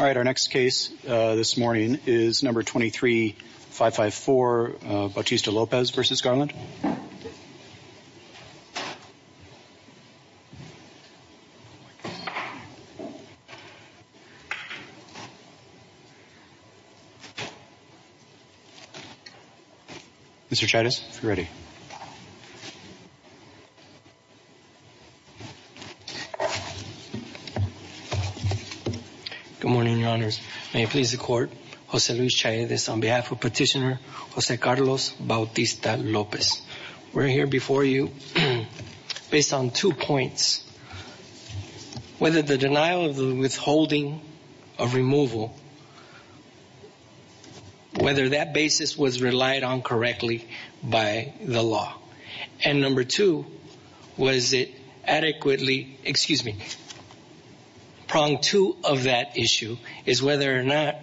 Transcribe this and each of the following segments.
All right, our next case this morning is number 23554, Bautista Lopez v. Garland Mr. Chavez, if you're ready Good morning, your honors. May it please the court, Jose Luis Chavez on behalf of Petitioner Jose Carlos Bautista Lopez. We're here before you based on two points. Whether the denial of the withholding of removal, whether that basis was relied on correctly by the law. And number two, was it adequately excuse me, prong two of that issue is whether or not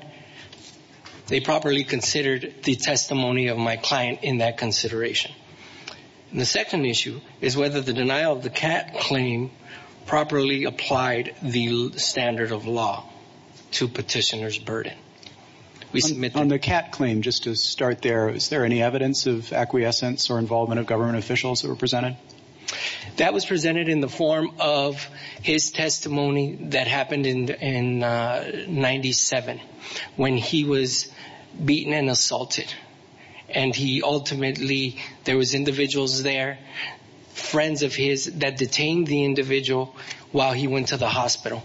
they properly considered the testimony of my client in that consideration. The second issue is whether the denial of the cat claim properly applied the standard of law to petitioner's burden. We submit on the cat claim just to start there. Is there any evidence of acquiescence or involvement of government officials that were presented? That was presented in the beaten and assaulted. And he ultimately, there was individuals there, friends of his that detained the individual while he went to the hospital.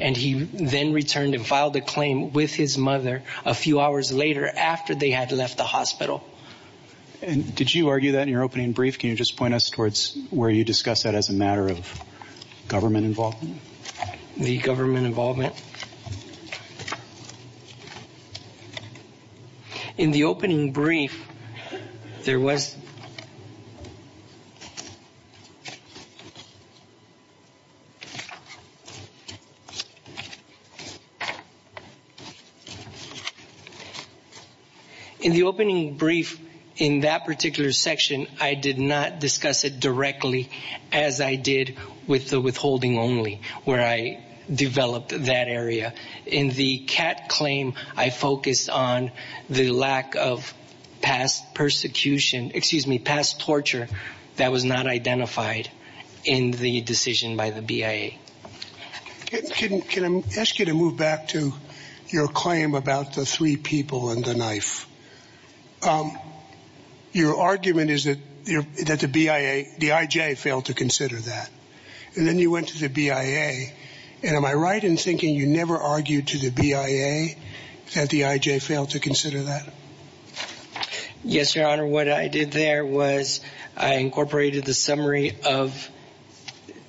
And he then returned and filed a claim with his mother a few hours later after they had left the hospital. And did you argue that in your opening brief? Can you just point us towards where you discuss that as a matter of government involvement? The government involvement. In the opening brief, there was In the opening brief, in that particular section, I did not discuss it directly as I did with the withholding only, where I developed that area. In the cat claim, I focused on the lack of past persecution, excuse me, past torture that was not identified in the decision by the BIA. Can I ask you to move back to your claim about the three people and the knife? Your argument is that the BIA, the IJ failed to consider that. And then you went to the BIA. And am I right in thinking you never argued to the BIA that the IJ failed to consider that? Yes, Your Honor. What I did there was I incorporated the summary of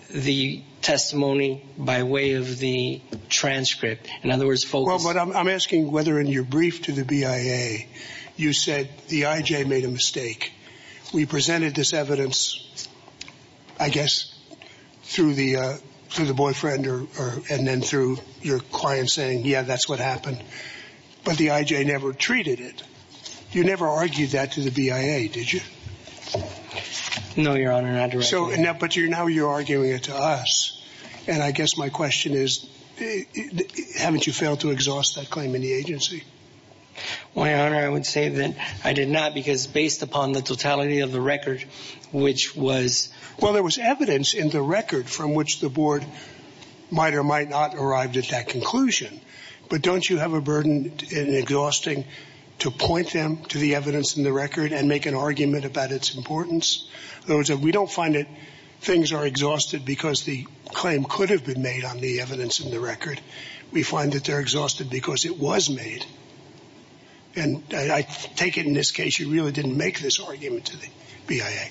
the testimony by way of the transcript. In other words, folks, what I'm asking, whether in your brief to the BIA, you said the IJ made a mistake. We presented this evidence, I guess, through the through the boyfriend or and then through your client saying, yeah, that's what happened. But the IJ never treated it. You never argued that to the BIA, did you? No, Your Honor, not directly. So now but you're now you're arguing it to us. And I guess my question is, haven't you failed to exhaust that claim in the agency? Well, Your Honor, I would say that I did not because based upon the totality of the record, which was well, there was evidence in the record from which the board might or might not arrived at that conclusion. But don't you have a burden in exhausting to point them to the evidence in the record and make an argument about its importance? We don't find that things are exhausted because the claim could have been made on the evidence in the record. We find that they're exhausted because it was made. And I take it in this case, you really didn't make this argument to the BIA.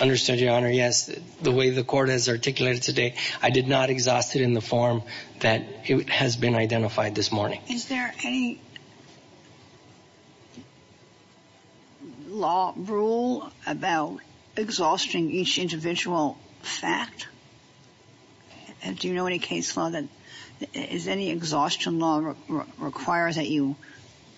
Understood, Your Honor. Yes. The way the court has articulated today, I did not exhaust it in the form that has been identified this morning. Is there any law rule about exhausting each individual fact? Do you know any case law that is any exhaustion law requires that you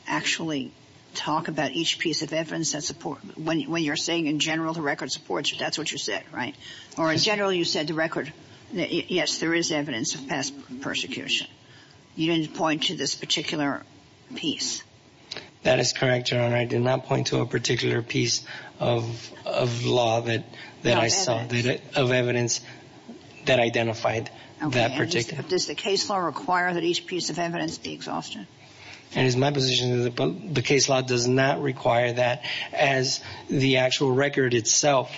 actually talk about each piece of evidence that support when you're saying in general, the record supports, that's what you said, right? Or in general, you said the record, yes, there is evidence of past persecution. You didn't point to this particular piece. That is correct, Your Honor. I did not point to a particular piece of law that I saw of evidence that identified that particular. Does the case law require that each piece of evidence be exhausted? It is my position that the case law does not require that as the actual record itself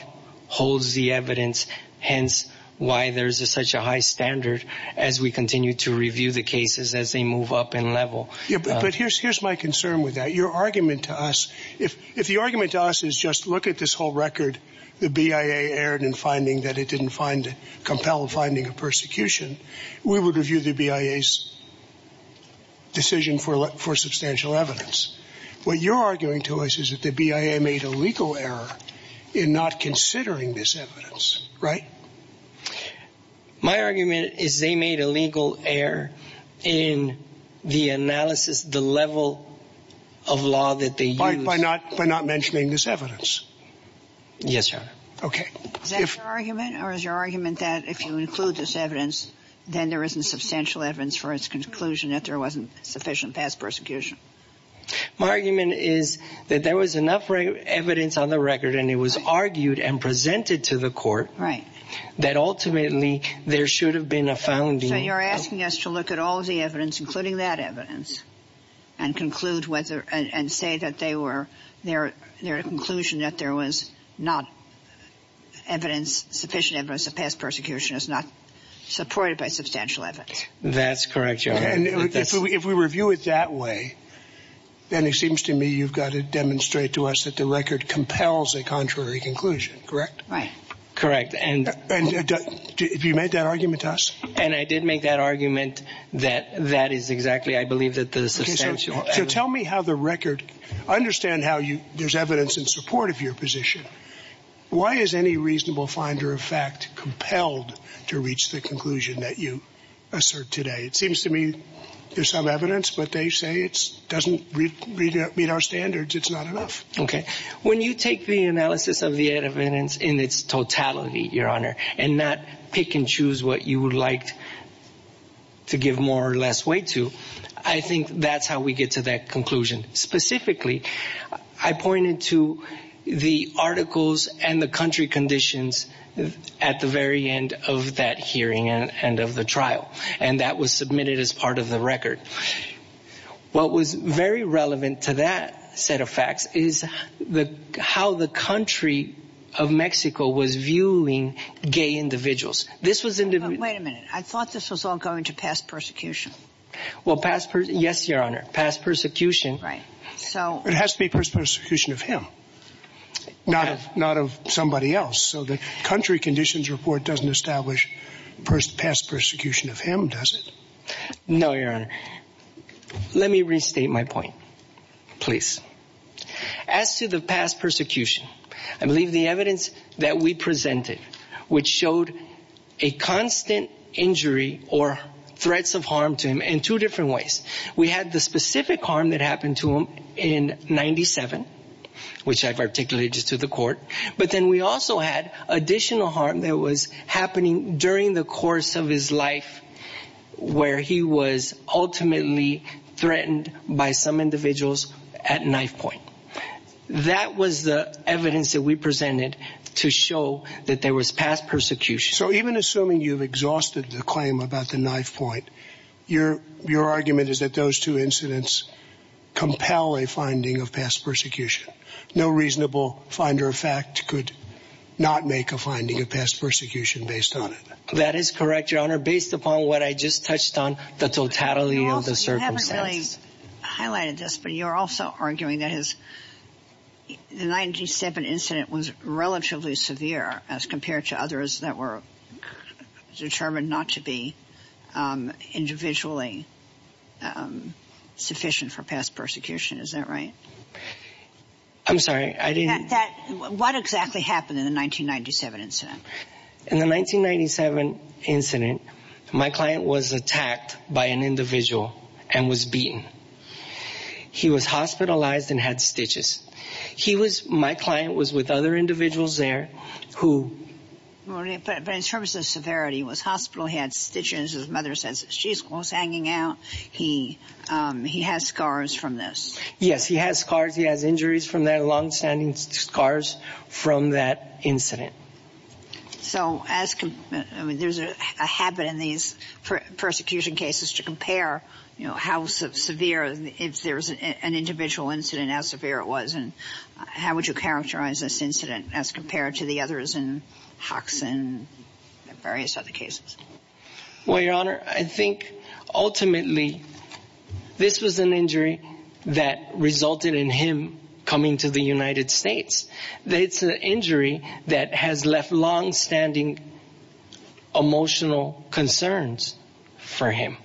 holds the evidence. Hence, why there's such a high standard as we continue to review the cases as they move up in level. But here's my concern with that. Your argument to us, if the argument to us is just look at this whole record, the BIA erred in finding that it didn't find compelled finding of persecution, we would review the BIA's decision for substantial evidence. What you're arguing to us is that the BIA made a legal error in not considering this evidence, right? My argument is they made a legal error in the analysis, the level of law that they used. By not mentioning this evidence? Yes, Your Honor. Okay. Is that your argument or is your argument that if you include this evidence, then there isn't substantial evidence for its conclusion that there wasn't sufficient evidence of past persecution? My argument is that there was enough evidence on the record and it was argued and presented to the court. Right. That ultimately there should have been a founding. So you're asking us to look at all of the evidence, including that evidence, and conclude whether and say that they were there, their conclusion that there was not evidence, sufficient evidence of past persecution is not supported by substantial evidence. That's correct, Your Honor. And if we review it that way, then it seems to me you've got to demonstrate to us that the record compels a contrary conclusion, correct? Right. Correct. And have you made that argument to us? And I did make that argument that that is exactly I believe that the substantial evidence... Okay, so tell me how the record... I understand how there's evidence in support of your position. Why is any reasonable finder of fact compelled to reach the conclusion that you assert today? It seems to me there's some evidence, but they say it doesn't meet our standards. It's not enough. Okay. When you take the analysis of the evidence in its totality, Your Honor, and not pick and choose what you would like to give more or less weight to, I think that's how we get to that conclusion. Specifically, I pointed to the articles and the country conditions at the very end of that hearing and of the trial, and that was submitted as part of the record. What was very relevant to that set of facts is how the country of Mexico was viewing gay individuals. This was in the... Wait a minute. I thought this was all going to past persecution. Well, past persecution... It has to be past persecution of him, not of somebody else. So the country conditions report doesn't establish past persecution of him, does it? No, Your Honor. Let me restate my point, please. As to the past persecution, I believe the evidence that we presented, which showed a constant injury or threats of harm to him in two different ways. We had the specific harm that happened to him in 97, which I've articulated to the court, but then we also had additional harm that was happening during the course of his life where he was ultimately threatened by some individuals at knife point. That was the evidence that we presented to show that there was past persecution. So even assuming you've exhausted the claim about the knife point, your argument is that those two incidents compel a finding of past persecution. No reasonable finder of fact could not make a finding of past persecution based on it. That is correct, Your Honor, based upon what I just touched on, the totality of the circumstances. You haven't really highlighted this, but you're also arguing that the 97 incident was relatively severe as compared to others that were determined not to be individually sufficient for past persecution. Is that right? I'm sorry, I didn't... What exactly happened in the 1997 incident? In the 1997 incident, my client was attacked by an individual and was beaten. He was hospitalized and had stitches. He was... My client was with other individuals there who... But in terms of severity, he was hospitalized, he had stitches, his mother says she was hanging out, he has scars from this. Yes, he has scars, he has injuries from that, longstanding scars from that incident. So as... There's a habit in these persecution cases to compare, you know, how severe... If there's an individual incident, how severe it was and how would you characterize this incident as compared to the others in Hoxon and various other cases? Well, Your Honor, I think ultimately this was an injury that resulted in him coming to the United States. It's an injury that has left longstanding emotional concerns for him.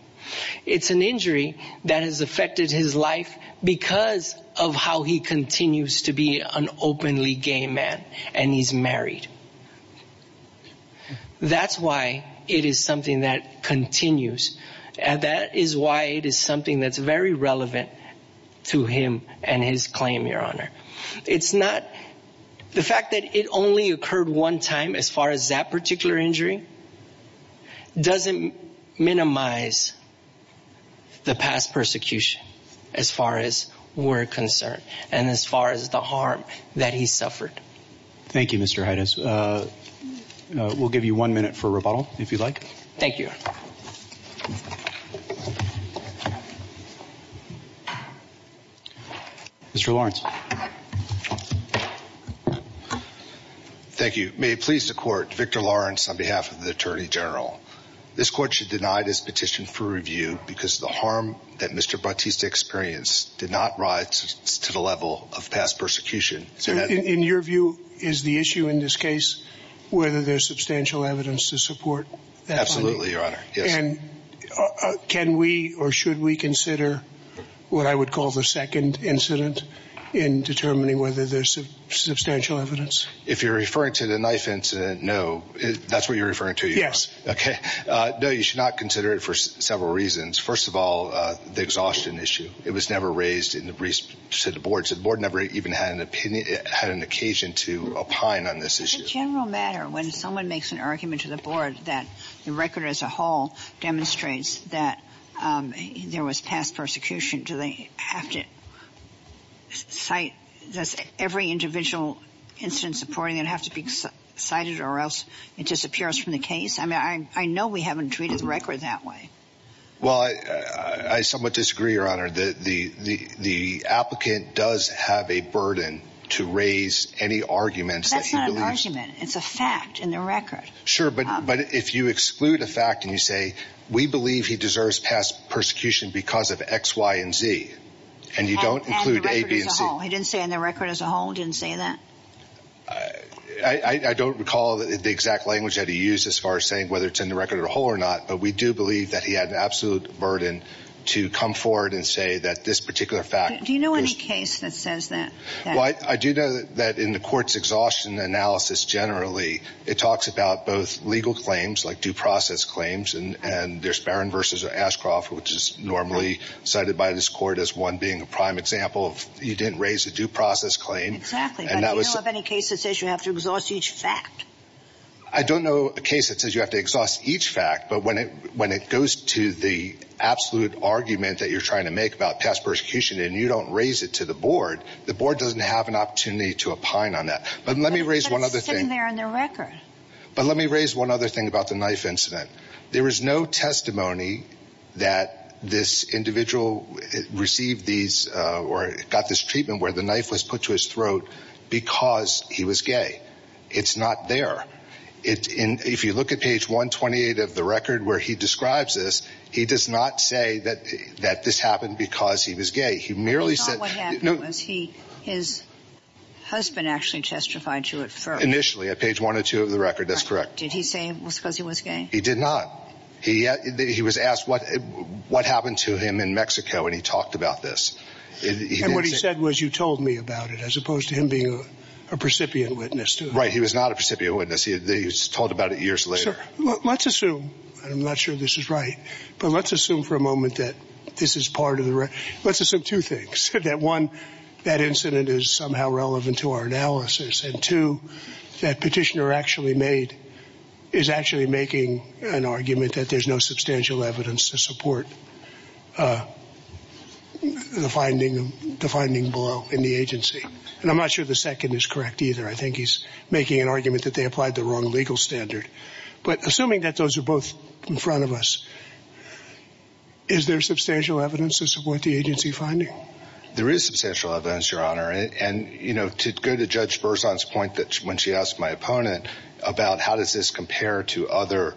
It's an injury that has affected his life because of how he continues to be an openly gay man and he's married. That's why it is something that continues and that is why it is something that's very relevant to him and his claim, Your Honor. It's not... The fact that it only occurred one time as far as that particular injury doesn't minimize the past persecution as far as we're concerned and as far as the harm that he suffered. Thank you, Mr. Haides. We'll give you one minute for rebuttal, if you'd like. Thank you. Mr. Lawrence. Thank you. May it please the Court, Victor Lawrence on behalf of the Attorney General. This Court should deny this petition for review because the harm that Mr. Bautista experienced did not rise to the level of past persecution. In your view, is the issue in this case whether there's substantial evidence to support that claim, Your Honor? Yes. Can we or should we consider what I would call the second incident in determining whether there's substantial evidence? If you're referring to the knife incident, no. That's what you're referring to, Your Honor? Yes. Okay. No, you should not consider it for several reasons. First of all, the exhaustion issue. It was never raised to the Board. The Board never even had an opinion, had an occasion to opine on this issue. Does it a general matter when someone makes an argument to the Board that the record as a whole demonstrates that there was past persecution, do they have to cite every individual incident supporting it have to be cited or else it disappears from the case? I mean, I know we haven't treated the record that way. Well, I somewhat disagree, Your Honor. The applicant does have a burden to raise any arguments that he believes... That's not an argument. It's a fact in the record. Sure, but if you exclude a fact and you say, we believe he deserves past persecution because of X, Y, and Z, and you don't include A, B, and C... And the record as a whole. He didn't say in the record as a whole, he didn't say that? I don't recall the exact language that he used as far as saying whether it's in the record as a whole or not, but we do believe that he had an absolute burden to come forward and say that this particular fact... Do you know any case that says that? I do know that in the court's exhaustion analysis generally, it talks about both legal claims like due process claims, and there's Barron v. Ashcroft, which is normally cited by this court as one being a prime example of you didn't raise a due process claim. Exactly, but do you know of any case that says you have to exhaust each fact? I don't know a case that says you have to exhaust each fact, but when it goes to the make about past persecution and you don't raise it to the board, the board doesn't have an opportunity to opine on that. But let me raise one other thing. But it's sitting there in their record. But let me raise one other thing about the knife incident. There is no testimony that this individual received these or got this treatment where the knife was put to his throat because he was gay. It's not there. If you look at page 128 of the record where he describes this, he does not say that that this happened because he was gay. He merely said, no, his husband actually testified to it initially at page one or two of the record. That's correct. Did he say it was because he was gay? He did not. He he was asked what what happened to him in Mexico. And he talked about this. And what he said was, you told me about it as opposed to him being a precipient witness. Right. He was not a precipient witness. He was told about it years later. Let's assume I'm not sure this is right, but let's assume for a moment that this is part of the. Let's assume two things that one, that incident is somehow relevant to our analysis and to that petitioner actually made is actually making an argument that there's no substantial evidence to support the finding, the finding below in the agency. And I'm not sure the second is correct either. I think he's making an argument that they applied the wrong legal standard. But assuming that those are both in front of us, is there substantial evidence to support the agency finding? There is substantial evidence, Your Honor. And, you know, to go to Judge Berzon's point that when she asked my opponent about how does this compare to other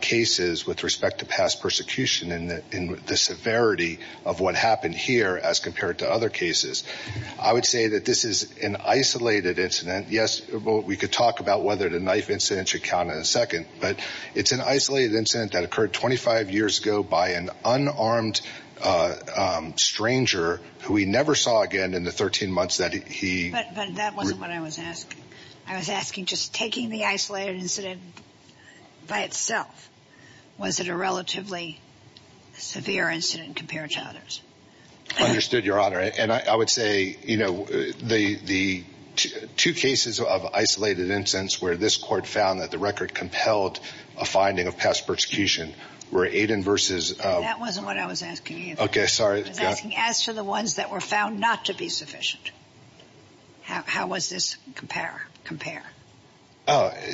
cases with respect to past persecution in the severity of what happened here as compared to other cases, I would say that this is an isolated incident that occurred 25 years ago by an unarmed stranger who we never saw again in the 13 months that he. But that wasn't what I was asking. I was asking just taking the isolated incident by itself. Was it a relatively severe incident compared to others? Understood, Your Honor. And I would say, you know, the two cases of isolated incidents where this court found that the record compelled a finding of past persecution were Aiden versus. That wasn't what I was asking. OK, sorry. I was asking as to the ones that were found not to be sufficient. How was this compare compare?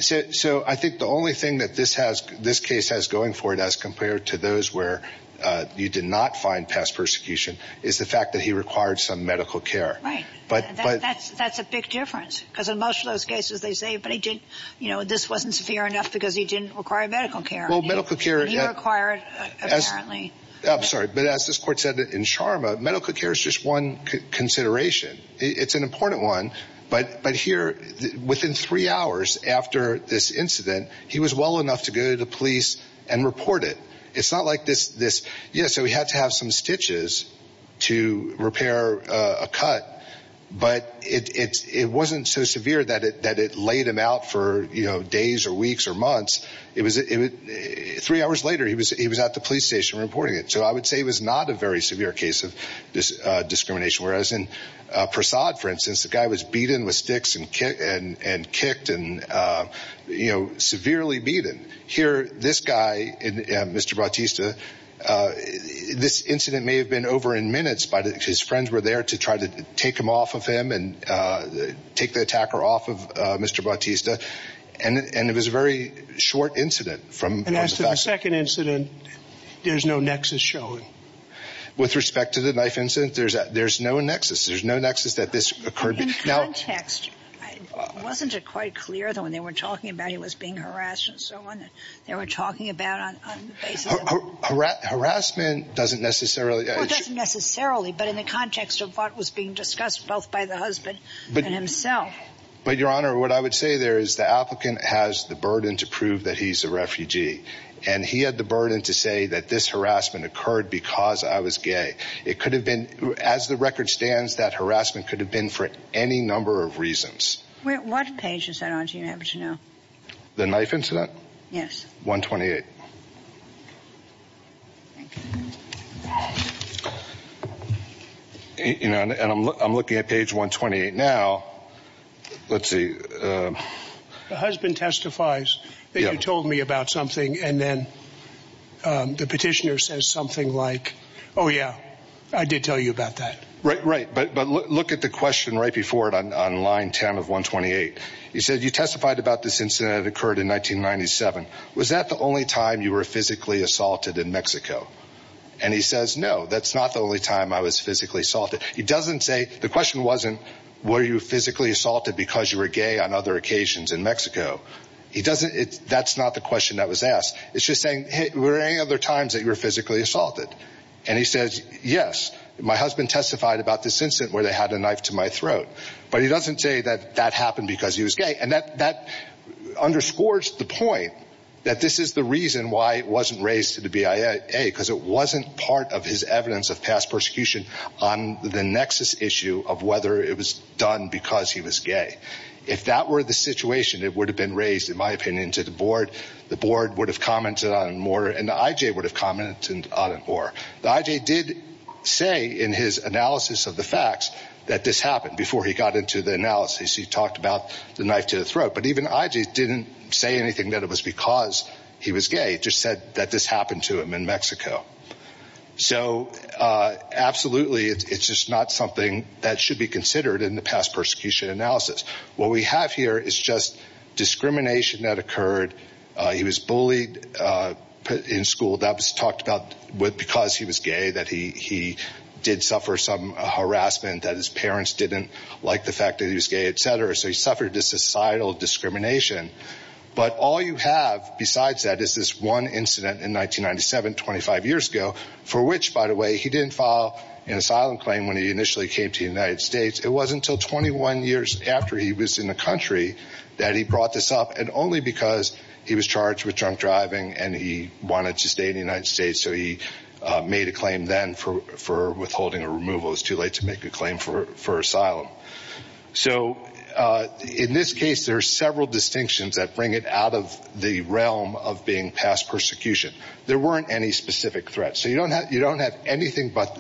So I think the only thing that this has, this case has going for it as compared to those where you did not find past persecution is the fact that he required some medical care. Right. But that's that's a big difference because in most of those cases they say, but he didn't. You know, this wasn't severe enough because he didn't require medical care. Well, medical care required. I'm sorry. But as this court said that in Sharma medical care is just one consideration. It's an important one. But but here within three hours after this incident, he was well enough to go to the police and report it. It's not like this. This. Yes. So we had to have some stitches to repair a cut. But it's it wasn't so severe that it that it laid him out for days or weeks or months. It was three hours later. He was he was at the police station reporting it. So I would say it was not a very severe case of this discrimination. Whereas in Prasad, for instance, the guy was beaten with sticks and and kicked and, you know, severely beaten here. This guy, Mr. Bautista, this incident may have been over in minutes, but his friends were there to try to take him off of him and take the attacker off of Mr. Bautista. And it was a very short incident from the second incident. There's no nexus showing with respect to the knife incident. There's there's no nexus. There's no nexus that this occurred in context. Wasn't it quite clear that when they were talking about he was being harassed and so on, they were talking about harassment doesn't necessarily necessarily. But in the context of what was being discussed both by the husband and himself. But your honor, what I would say there is the applicant has the burden to prove that he's a refugee and he had the burden to say that this harassment occurred because I was gay. It could have been as the record stands, that harassment could have been for any number of reasons. What page is that on, do you happen to know? The knife incident? Yes. 128. You know, and I'm I'm looking at page 128 now. Let's see. The husband testifies that you told me about something. And then the petitioner says something like, oh, yeah, I did tell you about that. Right. Right. But look at the question right before it on line 10 of 128. He said you testified about this incident that occurred in 1997. Was that the only time you were physically assaulted in Mexico? And he says, no, that's not the only time I was physically assaulted. He doesn't say the question wasn't, were you physically assaulted because you were gay on other occasions in Mexico? He doesn't. That's not the question that was asked. It's just saying, hey, were there any other times that you were physically assaulted? And he says, yes, my husband testified about this incident where they had a knife to my throat. But he doesn't say that that happened because he was gay. And that that underscores the point that this is the reason why it wasn't raised to the BIA, because it wasn't part of his evidence of past persecution on the nexus issue of whether it was done because he was gay. If that were the situation, it would have been raised, in my opinion, to the board. The board would have commented on it more. And the IJ would have commented on it more. The IJ did say in his analysis of the facts that this happened before he got into the analysis. He talked about the knife to the throat. But even IJ didn't say anything that it was because he was gay, just said that this happened to him in Mexico. So absolutely, it's just not something that should be considered in the past persecution analysis. What we have here is just discrimination that occurred. He was bullied in school. That was talked about because he was gay, that he did suffer some harassment, that his parents didn't like the fact that he was gay, et cetera. So he suffered this societal discrimination. But all you have besides that is this one incident in 1997, 25 years ago, for which, by the way, he didn't file an asylum claim when he initially came to the United States. It wasn't until 21 years after he was in the country that he brought this up, and only because he was charged with drunk driving and he wanted to stay in the United States. So he made a claim then for withholding a removal. It was too late to make a claim for of the realm of being past persecution. There weren't any specific threats. So you don't have anything but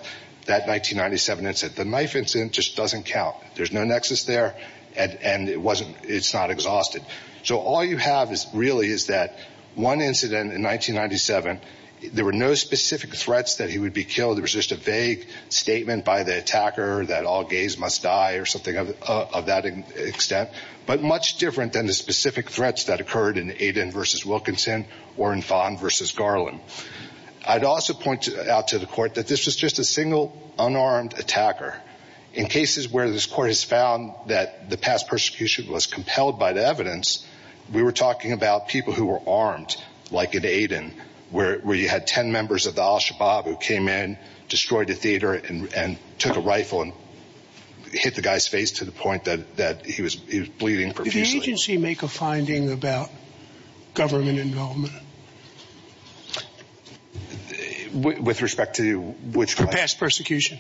that 1997 incident. The knife incident just doesn't count. There's no nexus there, and it's not exhausted. So all you have really is that one incident in 1997, there were no specific threats that he would be killed. It was just a vague statement by the attacker that all gays must die or something of that extent, but much different than the specific threats that occurred in Aiden versus Wilkinson or in Fon versus Garland. I'd also point out to the court that this was just a single unarmed attacker. In cases where this court has found that the past persecution was compelled by the evidence, we were talking about people who were armed, like in Aiden, where you had 10 members of the Al-Shabaab who came in, destroyed the theater, and took a rifle and hit the guy's face to the point that he was bleeding profusely. Did the agency make a finding about government involvement? With respect to which... For past persecution.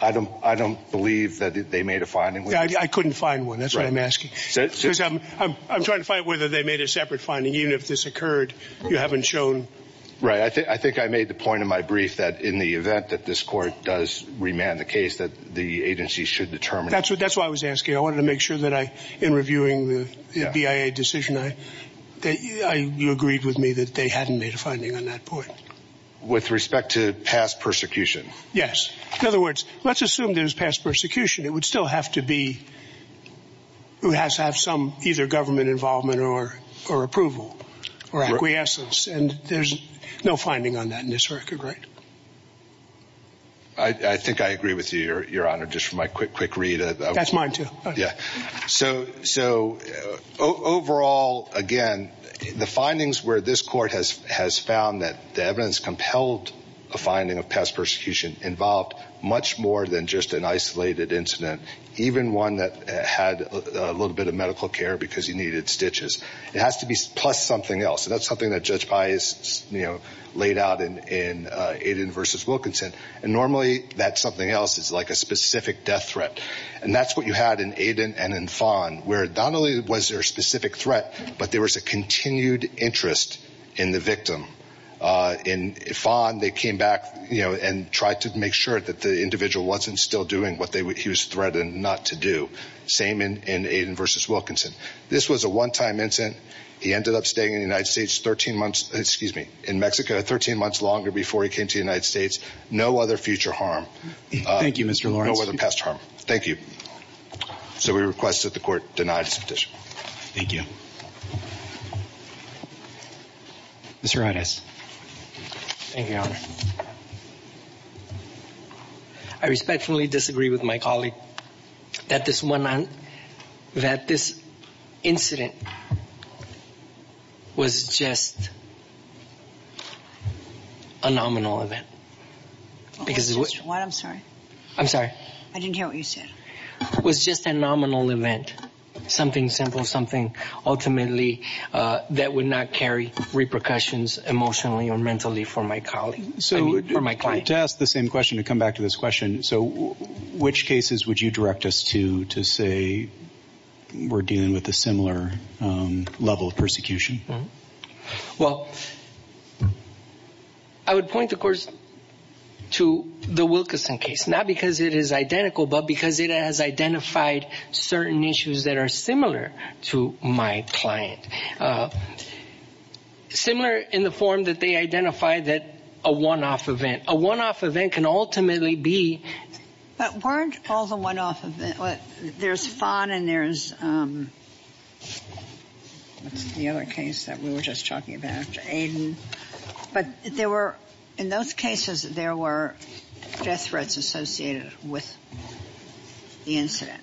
I don't believe that they made a finding. I couldn't find one. That's what I'm asking. I'm trying to find whether they made a separate finding. Even if this occurred, you haven't shown... Right. I think I made the point in my brief that in the event that this court does remand the case, that the agency should determine... That's why I was asking. I wanted to make sure that in reviewing the BIA decision, you agreed with me that they hadn't made a finding on that point. With respect to past persecution. Yes. In other words, let's assume there's past persecution. It would still have to be... It would have to have some either government involvement or approval or acquiescence. There's no finding on that in this record, right? I think I agree with you, Your Honor. Just for my quick read of... That's mine too. Yeah. Overall, again, the findings where this court has found that the evidence compelled a finding of past persecution involved much more than just an isolated incident, even one that had a little bit of medical care because he needed stitches. It has to be plus something else. That's something that Judge Wilkinson. Normally, that's something else. It's like a specific death threat. That's what you had in Aiden and in Fon, where not only was there a specific threat, but there was a continued interest in the victim. In Fon, they came back and tried to make sure that the individual wasn't still doing what he was threatened not to do. Same in Aiden versus Wilkinson. This was a one-time incident. He ended up staying in Mexico 13 months longer before he came to the United States. No other future harm. Thank you, Mr. Lawrence. No other past harm. Thank you. So we request that the court deny this petition. Thank you. Mr. Rodas. Thank you, Your Honor. I respectfully disagree with my colleague that this incident was just a nominal event. What? I'm sorry. I'm sorry. I didn't hear what you said. It was just a nominal event. Something simple, something ultimately that would not carry repercussions emotionally or mentally for my client. To ask the same question, to come back to this question, which cases would you direct us to say we're dealing with a similar level of persecution? Well, I would point, of course, to the Wilkinson case, not because it is identical, but because it has identified certain issues that are similar to my client. Similar in the form that they identify that a one-off event. A one-off event can ultimately be... But weren't all the one-off events, there's Fon and there's, what's the other case that we were just talking about, Aiden. But there were, in those cases, there were death threats associated with the incident.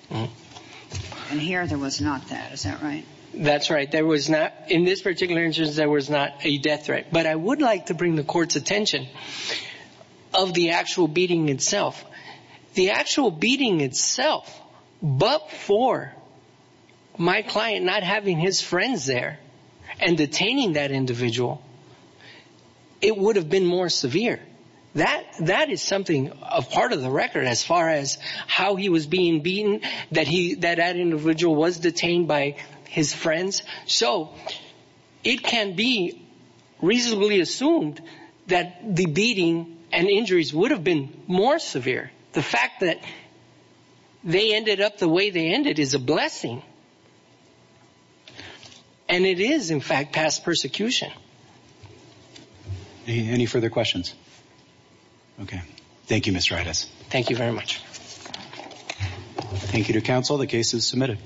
And here there was not that, is that right? That's right. There was not, in this particular instance, there was not a death threat. But I would like to bring the court's attention of the actual beating itself. The actual beating itself, but for my client not having his friends there and detaining that individual, it would have been more severe. That is something, a part of the record as far as how he was being beaten, that that individual was detained by his friends. So it can be reasonably assumed that the beating and injuries would have been more severe. The fact that they ended up the way they ended is a blessing. And it is, in Any further questions? Okay. Thank you, Ms. Raitis. Thank you very much. Thank you to counsel. The case is submitted.